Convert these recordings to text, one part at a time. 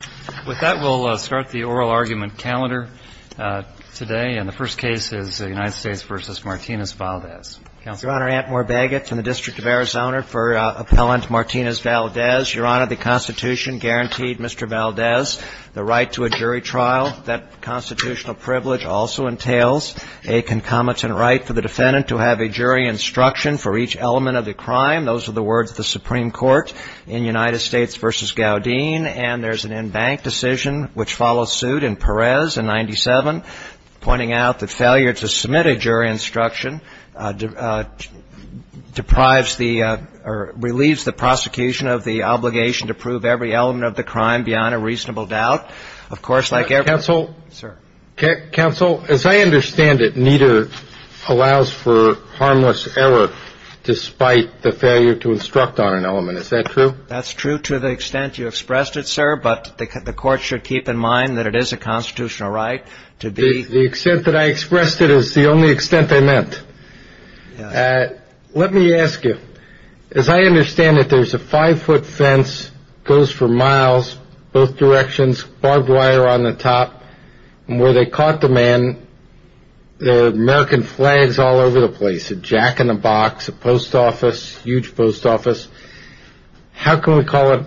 Your Honor, the Constitution guaranteed Mr. Valdez the right to a jury trial. That constitutional privilege also entails a concomitant right for the defendant to have a jury instruction for each element of the crime. Those are the words of the Supreme Court in United States v. Gowdene. And there's an in-depth report on that. And the Supreme Court's judgment is that the Supreme Court's decision to grant jury instruction to a jury was a bank decision, which follows suit in Perez in 1997, pointing out that failure to submit a jury instruction deprives the or relieves the prosecution of the obligation to prove every element of the crime beyond a reasonable doubt. Of course, like every other — Justice Breyer — Counsel? Justice Breyer Sir. Justice Breyer Counsel, as I understand it, neither allows for harmless error despite the failure to instruct on an element. Is that true? Justice Breyer That's true to the extent you expressed it, sir. But the court should keep in mind that it is a constitutional right to be — Justice Breyer The extent that I expressed it is the only extent I meant. Justice Breyer Yes. Justice Breyer Let me ask you. As I understand it, there's a five-foot fence, goes for miles both directions, barbed wire on the top. And where they caught the man, there are American flags all over the place, a jack-in-the-box, a post office, huge post office. How can we call it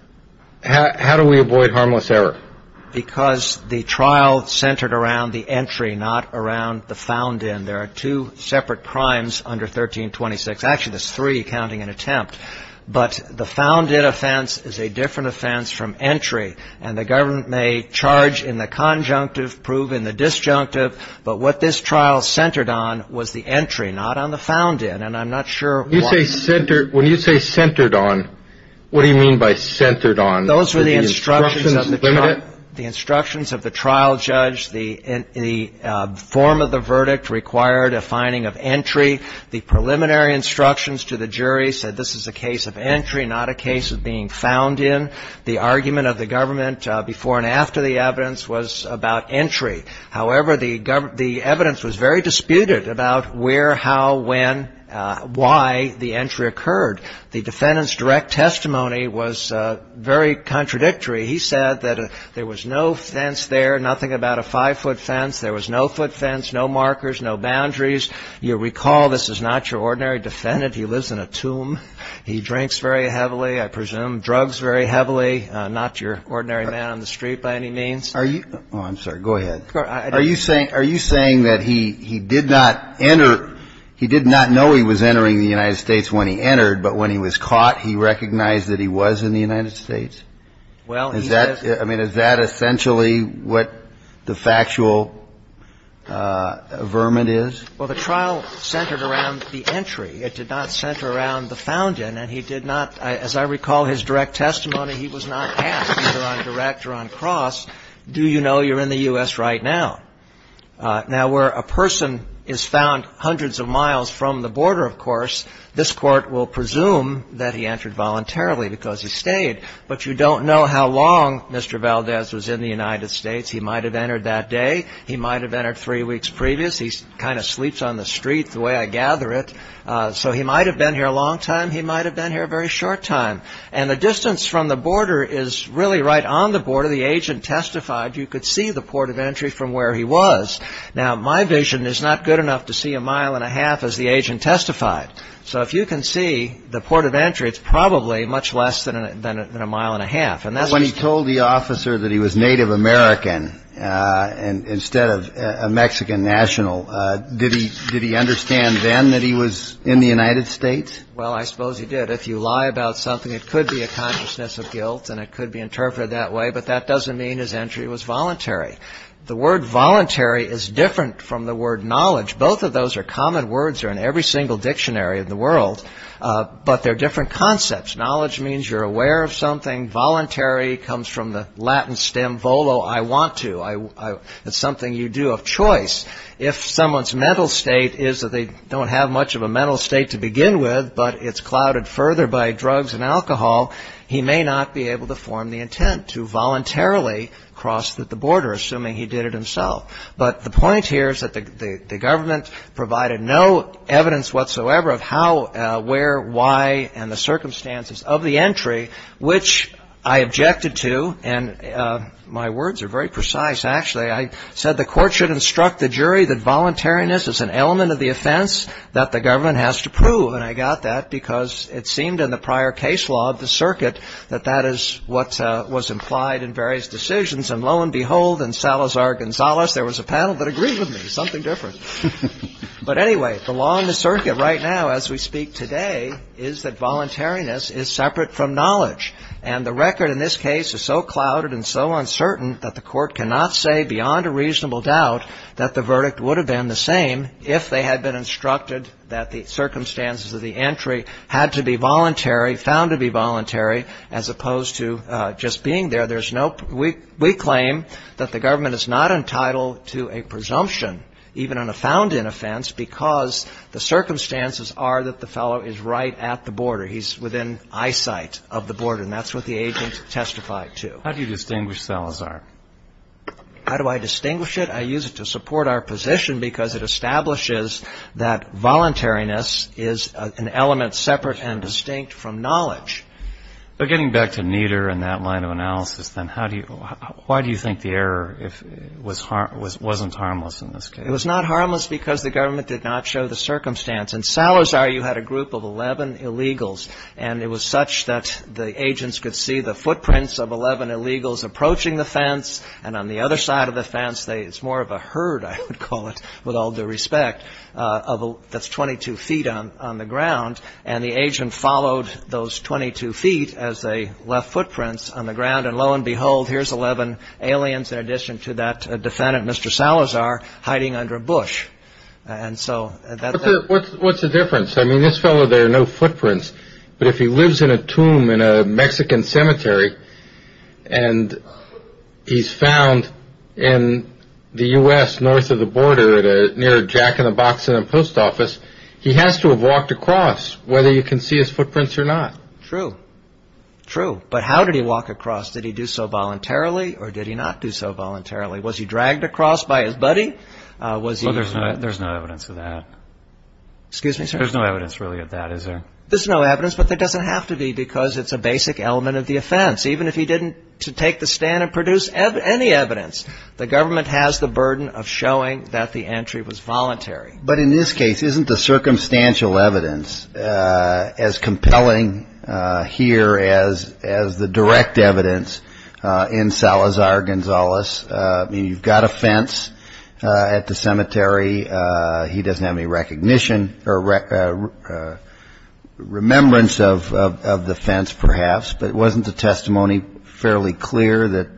— how do we avoid harmless error? Justice Breyer Because the trial centered around the entry, not around the found-in. There are two separate crimes under 1326. Actually, there's three, counting an attempt. But the found-in offense is a different offense from entry. And the government may charge in the conjunctive, prove in the disjunctive. But what this trial centered on was the entry, not on the found-in. And I'm not sure why — Justice Breyer When you say centered on, what do you mean by centered on? Justice Breyer Those were the instructions of the trial judge. The form of the verdict required a finding of entry. The preliminary instructions to the jury said this is a case of entry, not a case of being found in. The argument of the government before and after the evidence was about entry. However, the evidence was very disputed about where, how, when, why the entry occurred. The defendant's direct testimony was very contradictory. He said that there was no fence there, nothing about a five-foot fence. There was no foot fence, no markers, no boundaries. You recall this is not your ordinary defendant. He lives in a tomb. He drinks very heavily, I presume. Drugs very heavily, not your ordinary man on the street by any means. Kennedy Are you — oh, I'm sorry. Go ahead. Are you saying that he did not enter — he did not know he was entering the United States when he entered, but when he was caught, he recognized that he was in the United States? I mean, is that essentially what the factual vermin is? Well, the trial centered around the entry. It did not center around the found in. And he did not — as I recall his direct testimony, he was not asked either on direct or on cross, do you know you're in the U.S. right now? Now, where a person is found hundreds of miles from the border, of course, this Court will presume that he entered voluntarily because he stayed. But you don't know how long Mr. Valdez was in the United States. He might have entered that day. He might have entered three weeks previous. He kind of sleeps on the street, the way I gather it. So he might have been here a long time. He might have been here a very short time. And the distance from the border is really right on the border. The agent testified you could see the port of entry from where he was. Now, my vision is not good enough to see a mile and a half as the agent testified. So if you can see the port of entry, it's probably much less than a mile and a half. When he told the officer that he was Native American instead of a Mexican national, did he understand then that he was in the United States? Well, I suppose he did. If you lie about something, it could be a consciousness of guilt and it could be interpreted that way. But that doesn't mean his entry was voluntary. The word voluntary is different from the word knowledge. Both of those are common words that are in every single dictionary in the world, but they're different concepts. Knowledge means you're aware of something. Voluntary comes from the Latin stem volo, I want to. It's something you do of choice. If someone's mental state is that they don't have much of a mental state to begin with, but it's clouded further by drugs and alcohol, he may not be able to form the intent to voluntarily cross the border, assuming he did it himself. But the point here is that the government provided no evidence whatsoever of how, where, why, and the circumstances of the entry, which I objected to. And my words are very precise, actually. I said the court should instruct the jury that voluntariness is an element of the offense that the government has to prove. And I got that because it seemed in the prior case law of the circuit that that is what was implied in various decisions. And lo and behold, in Salazar-Gonzalez, there was a panel that agreed with me, something different. But anyway, the law in the circuit right now as we speak today is that voluntariness is separate from knowledge. And the record in this case is so clouded and so uncertain that the court cannot say beyond a reasonable doubt that the verdict would have been the same if they had been instructed that the circumstances of the entry had to be voluntary, found to be voluntary, as opposed to just being there. We claim that the government is not entitled to a presumption, even on a found-in offense, because the circumstances are that the fellow is right at the border. He's within eyesight of the border. And that's what the agent testified to. How do you distinguish Salazar? How do I distinguish it? I use it to support our position because it establishes that voluntariness is an element separate and distinct from knowledge. But getting back to Nieder and that line of analysis, then, why do you think the error wasn't harmless in this case? It was not harmless because the government did not show the circumstance. In Salazar, you had a group of 11 illegals, and it was such that the agents could see the footprints of 11 illegals approaching the fence. And on the other side of the fence, it's more of a herd, I would call it, with all due respect, that's 22 feet on the ground. And the agent followed those 22 feet as they left footprints on the ground. And lo and behold, here's 11 aliens, in addition to that defendant, Mr. Salazar, hiding under a bush. And so that's it. What's the difference? I mean, this fellow, there are no footprints. But if he lives in a tomb in a Mexican cemetery and he's found in the U.S. north of the border near a jack-in-the-box in a post office, he has to have walked across, whether you can see his footprints or not. True. True. But how did he walk across? Did he do so voluntarily or did he not do so voluntarily? Was he dragged across by his buddy? Well, there's no evidence of that. Excuse me, sir? There's no evidence, really, of that, is there? There's no evidence, but there doesn't have to be because it's a basic element of the offense. Even if he didn't take the stand and produce any evidence, the government has the burden of showing that the entry was voluntary. But in this case, isn't the circumstantial evidence as compelling here as the direct evidence in Salazar Gonzalez? I mean, you've got a fence at the cemetery. He doesn't have any recognition or remembrance of the fence, perhaps, but wasn't the testimony fairly clear that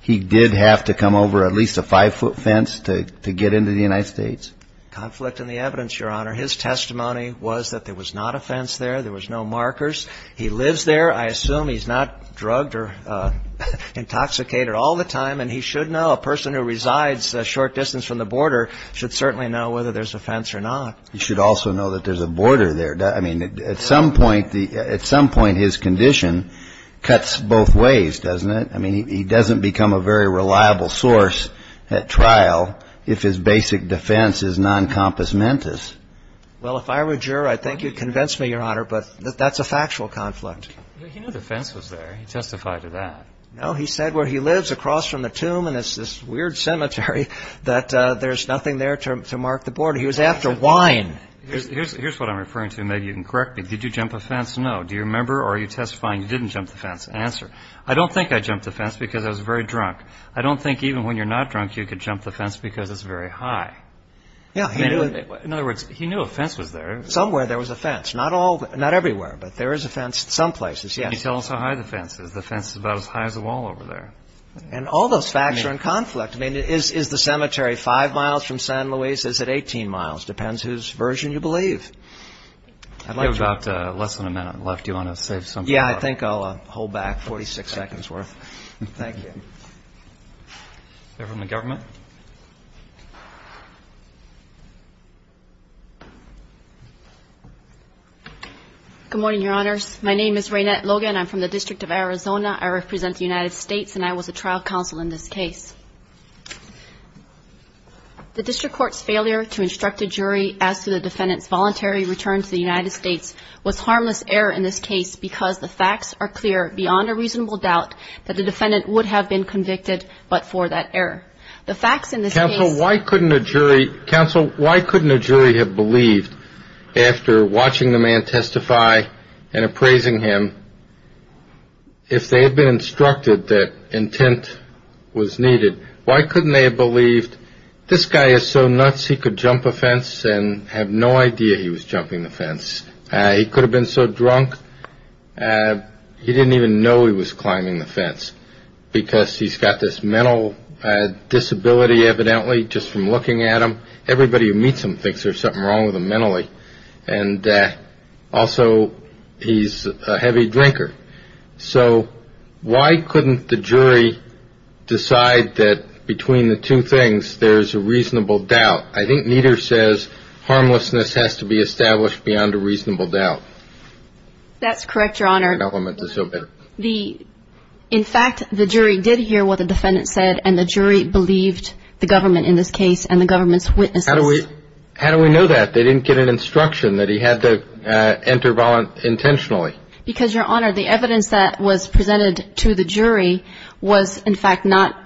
he did have to come over at least a five-foot fence to get into the United States? Conflict in the evidence, Your Honor. His testimony was that there was not a fence there. There was no markers. He lives there. I assume he's not drugged or intoxicated all the time, and he should know. A person who resides a short distance from the border should certainly know whether there's a fence or not. He should also know that there's a border there. I mean, at some point, his condition cuts both ways, doesn't it? I mean, he doesn't become a very reliable source at trial if his basic defense is noncompassmentist. Well, if I were a juror, I think you'd convince me, Your Honor, but that's a factual conflict. He knew the fence was there. He testified to that. No, he said where he lives across from the tomb, and it's this weird cemetery, that there's nothing there to mark the border. He was after wine. Here's what I'm referring to. Maybe you can correct me. Did you jump a fence? No. Do you remember, or are you testifying you didn't jump the fence? Answer. I don't think I jumped the fence because I was very drunk. I don't think even when you're not drunk, you could jump the fence because it's very high. Yeah, he knew it. In other words, he knew a fence was there. Somewhere there was a fence. Not everywhere, but there is a fence some places, yes. Can you tell us how high the fence is? The fence is about as high as the wall over there. And all those facts are in conflict. I mean, is the cemetery 5 miles from San Luis? Is it 18 miles? Depends whose version you believe. We have about less than a minute left. Do you want to say something? Yeah, I think I'll hold back 46 seconds worth. Thank you. They're from the government. Good morning, Your Honors. My name is Raynette Logan. I'm from the District of Arizona. I represent the United States, and I was a trial counsel in this case. The district court's failure to instruct a jury as to the defendant's voluntary return to the United States was harmless error in this case because the facts are clear beyond a reasonable doubt that the defendant would have been convicted but for that error. The facts in this case — Counsel, why couldn't a jury have believed, after watching the man testify and appraising him, if they had been instructed that intent was needed, why couldn't they have believed this guy is so nuts he could jump a fence and have no idea he was jumping the fence? He could have been so drunk he didn't even know he was climbing the fence because he's got this mental disability, evidently, just from looking at him. Everybody who meets him thinks there's something wrong with him mentally. And also, he's a heavy drinker. So why couldn't the jury decide that between the two things there's a reasonable doubt? I think neither says harmlessness has to be established beyond a reasonable doubt. That's correct, Your Honor. In fact, the jury did hear what the defendant said, and the jury believed the government in this case and the government's witnesses. How do we know that? They didn't get an instruction that he had to enter voluntarily, intentionally. Because, Your Honor, the evidence that was presented to the jury was, in fact, not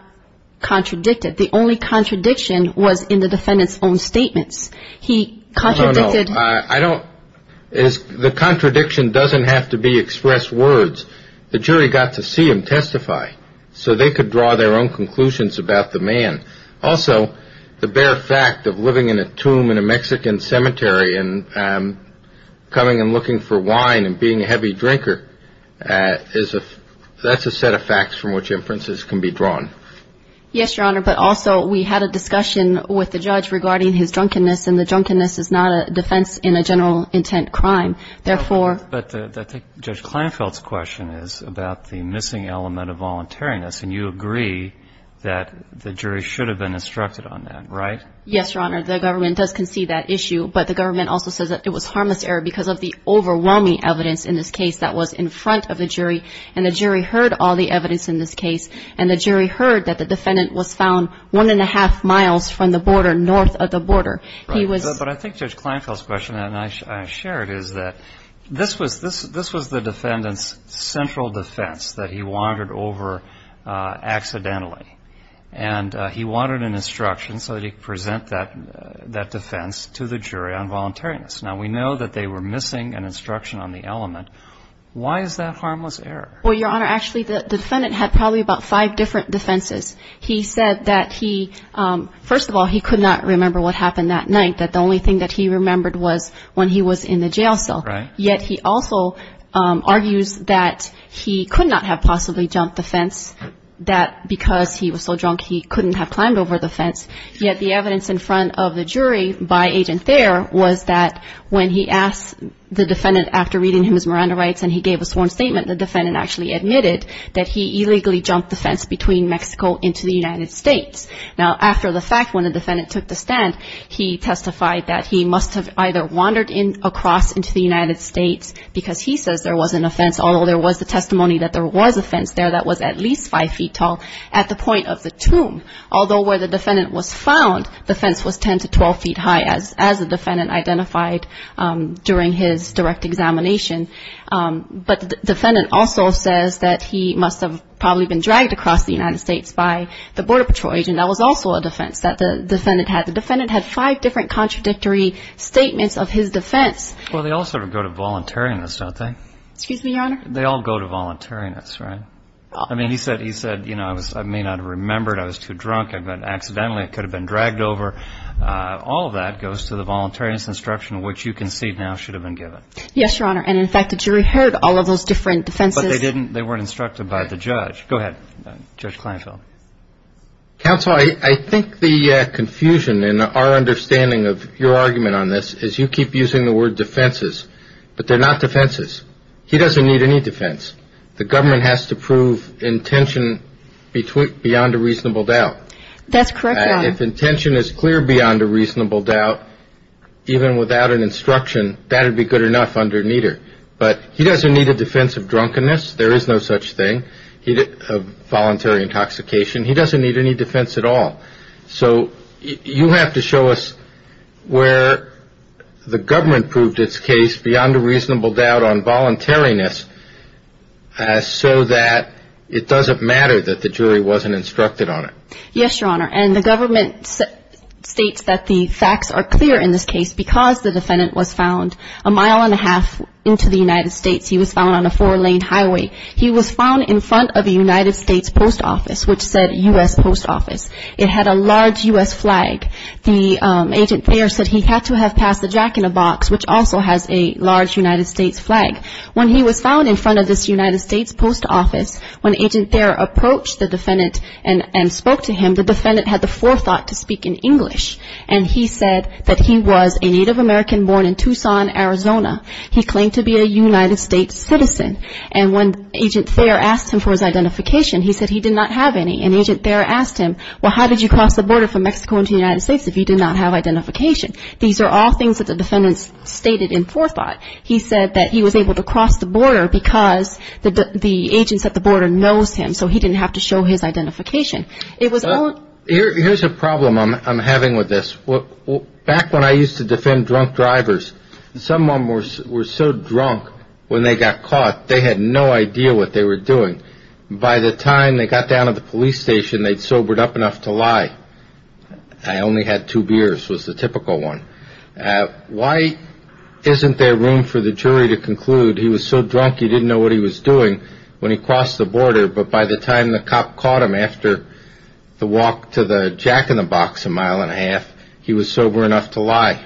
contradicted. The only contradiction was in the defendant's own statements. He contradicted — No, no, no. I don't — the contradiction doesn't have to be expressed words. The jury got to see him testify so they could draw their own conclusions about the man. Also, the bare fact of living in a tomb in a Mexican cemetery and coming and looking for wine and being a heavy drinker, that's a set of facts from which inferences can be drawn. Yes, Your Honor. But also, we had a discussion with the judge regarding his drunkenness, and the drunkenness is not a defense in a general intent crime. Therefore — But I think Judge Kleinfeld's question is about the missing element of voluntariness. And you agree that the jury should have been instructed on that, right? Yes, Your Honor. The government does concede that issue, but the government also says that it was harmless error because of the overwhelming evidence in this case that was in front of the jury. And the jury heard all the evidence in this case, and the jury heard that the defendant was found one-and-a-half miles from the border, north of the border. He was — Right. But I think Judge Kleinfeld's question, and I share it, this was the defendant's central defense that he wandered over accidentally. And he wanted an instruction so that he could present that defense to the jury on voluntariness. Now, we know that they were missing an instruction on the element. Why is that harmless error? Well, Your Honor, actually, the defendant had probably about five different defenses. He said that he — first of all, he could not remember what happened that night, that the only thing that he remembered was when he was in the jail cell. Right. Yet he also argues that he could not have possibly jumped the fence, that because he was so drunk he couldn't have climbed over the fence. Yet the evidence in front of the jury by Agent Thayer was that when he asked the defendant, after reading him his Miranda rights and he gave a sworn statement, the defendant actually admitted that he illegally jumped the fence between Mexico and the United States. Now, after the fact, when the defendant took the stand, he testified that he must have either wandered across into the United States, because he says there wasn't a fence, although there was the testimony that there was a fence there that was at least five feet tall, at the point of the tomb. Although where the defendant was found, the fence was 10 to 12 feet high, as the defendant identified during his direct examination. But the defendant also says that he must have probably been dragged across the United States by the Border Patrol agent that was also a defense that the defendant had. The defendant had five different contradictory statements of his defense. Well, they all sort of go to voluntariness, don't they? Excuse me, Your Honor? They all go to voluntariness, right? I mean, he said, you know, I may not have remembered, I was too drunk, I accidentally could have been dragged over. All of that goes to the voluntariness instruction, which you can see now should have been given. Yes, Your Honor. And, in fact, the jury heard all of those different defenses. But they weren't instructed by the judge. Go ahead, Judge Kleinfeld. Counsel, I think the confusion in our understanding of your argument on this is you keep using the word defenses, but they're not defenses. He doesn't need any defense. The government has to prove intention beyond a reasonable doubt. That's correct, Your Honor. If intention is clear beyond a reasonable doubt, even without an instruction, that would be good enough under neither. But he doesn't need a defense of drunkenness. There is no such thing. Voluntary intoxication. He doesn't need any defense at all. So you have to show us where the government proved its case beyond a reasonable doubt on voluntariness so that it doesn't matter that the jury wasn't instructed on it. Yes, Your Honor. And the government states that the facts are clear in this case because the defendant was found a mile and a half into the United States. He was found on a four-lane highway. He was found in front of a United States post office, which said U.S. post office. It had a large U.S. flag. Agent Thayer said he had to have passed the jack-in-the-box, which also has a large United States flag. When he was found in front of this United States post office, when Agent Thayer approached the defendant and spoke to him, the defendant had the forethought to speak in English, and he said that he was a Native American born in Tucson, Arizona. He claimed to be a United States citizen. And when Agent Thayer asked him for his identification, he said he did not have any. And Agent Thayer asked him, well, how did you cross the border from Mexico into the United States if you did not have identification? These are all things that the defendant stated in forethought. He said that he was able to cross the border because the agents at the border knows him, so he didn't have to show his identification. Here's a problem I'm having with this. Back when I used to defend drunk drivers, someone was so drunk when they got caught, they had no idea what they were doing. By the time they got down to the police station, they'd sobered up enough to lie. I only had two beers was the typical one. Why isn't there room for the jury to conclude he was so drunk he didn't know what he was doing when he crossed the border, but by the time the cop caught him after the walk to the jack-in-the-box a mile and a half, he was sober enough to lie?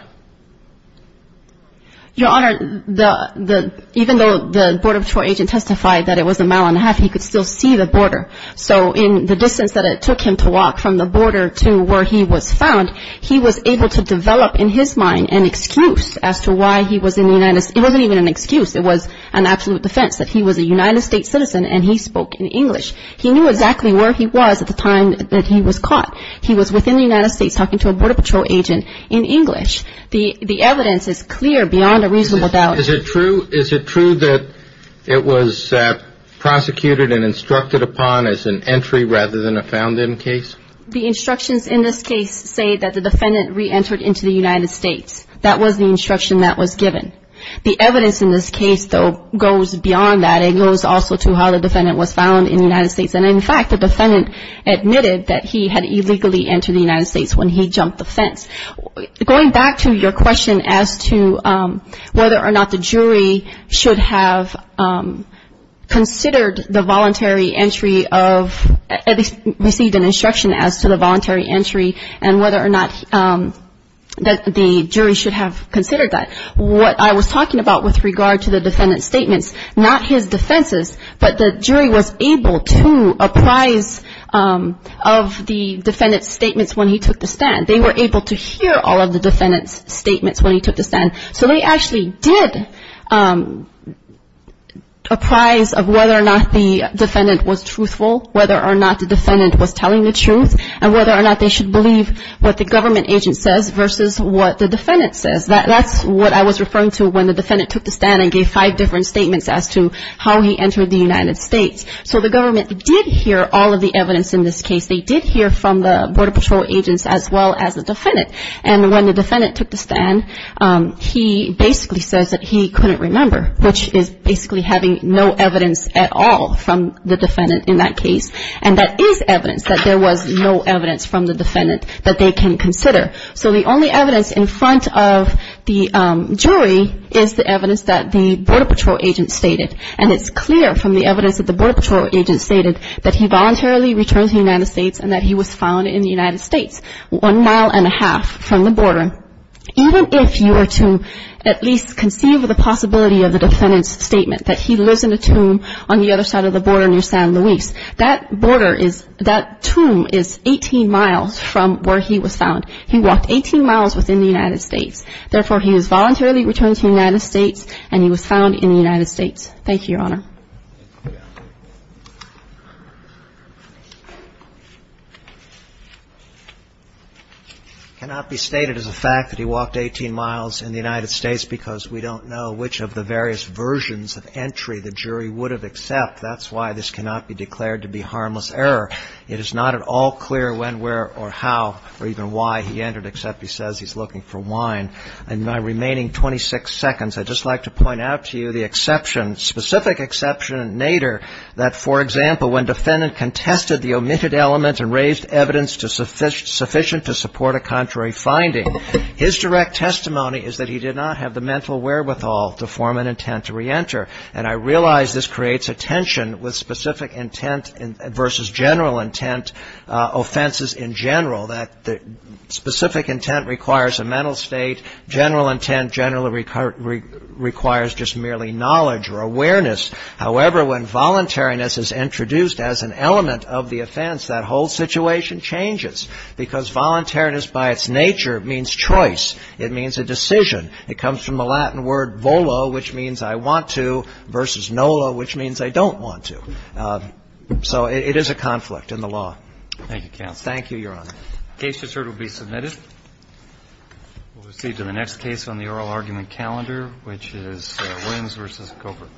Your Honor, even though the Border Patrol agent testified that it was a mile and a half, he could still see the border. So in the distance that it took him to walk from the border to where he was found, he was able to develop in his mind an excuse as to why he was in the United States. It wasn't even an excuse. It was an absolute defense that he was a United States citizen and he spoke in English. He knew exactly where he was at the time that he was caught. He was within the United States talking to a Border Patrol agent in English. The evidence is clear beyond a reasonable doubt. Is it true that it was prosecuted and instructed upon as an entry rather than a found-in case? The instructions in this case say that the defendant re-entered into the United States. That was the instruction that was given. The evidence in this case, though, goes beyond that. It goes also to how the defendant was found in the United States. And, in fact, the defendant admitted that he had illegally entered the United States when he jumped the fence. Going back to your question as to whether or not the jury should have considered the voluntary entry of ‑‑ received an instruction as to the voluntary entry and whether or not the jury should have considered that, what I was talking about with regard to the defendant's statements, not his defenses, but the jury was able to apprise of the defendant's statements when he took the stand. They were able to hear all of the defendant's statements when he took the stand. So they actually did apprise of whether or not the defendant was truthful, whether or not the defendant was telling the truth, and whether or not they should believe what the government agent says versus what the defendant says. That's what I was referring to when the defendant took the stand and gave five different statements as to how he entered the United States. So the government did hear all of the evidence in this case. They did hear from the Border Patrol agents as well as the defendant. And when the defendant took the stand, he basically says that he couldn't remember, which is basically having no evidence at all from the defendant in that case. And that is evidence that there was no evidence from the defendant that they can consider. So the only evidence in front of the jury is the evidence that the Border Patrol agent stated. And it's clear from the evidence that the Border Patrol agent stated that he voluntarily returned to the United States and that he was found in the United States one mile and a half from the border. Even if you were to at least conceive of the possibility of the defendant's statement that he lives in a tomb on the other side of the border near San Luis, that tomb is 18 miles from where he was found. He walked 18 miles within the United States. Therefore, he was voluntarily returned to the United States and he was found in the United States. Thank you, Your Honor. Cannot be stated as a fact that he walked 18 miles in the United States because we don't know which of the various versions of entry the jury would have accepted. That's why this cannot be declared to be harmless error. It is not at all clear when, where or how or even why he entered except he says he's looking for wine. In my remaining 26 seconds, I'd just like to point out to you the exception, specific exception in Nader that, for example, when defendant contested the omitted element and raised evidence sufficient to support a contrary finding, his direct testimony is that he did not have the mental wherewithal to form an intent to reenter. And I realize this creates a tension with specific intent versus general intent offenses in general, that the specific intent requires a mental state. General intent generally requires just merely knowledge or awareness. However, when voluntariness is introduced as an element of the offense, that whole situation changes because voluntariness by its nature means choice. It means a decision. It comes from the Latin word volo, which means I want to, versus nolo, which means I don't want to. So it is a conflict in the law. Thank you, counsel. Thank you, Your Honor. The case just heard will be submitted. We'll proceed to the next case on the oral argument calendar, which is Williams v. Covert. Thank you, Your Honor.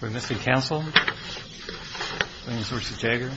We're missing counsel. Williams versus Jagger.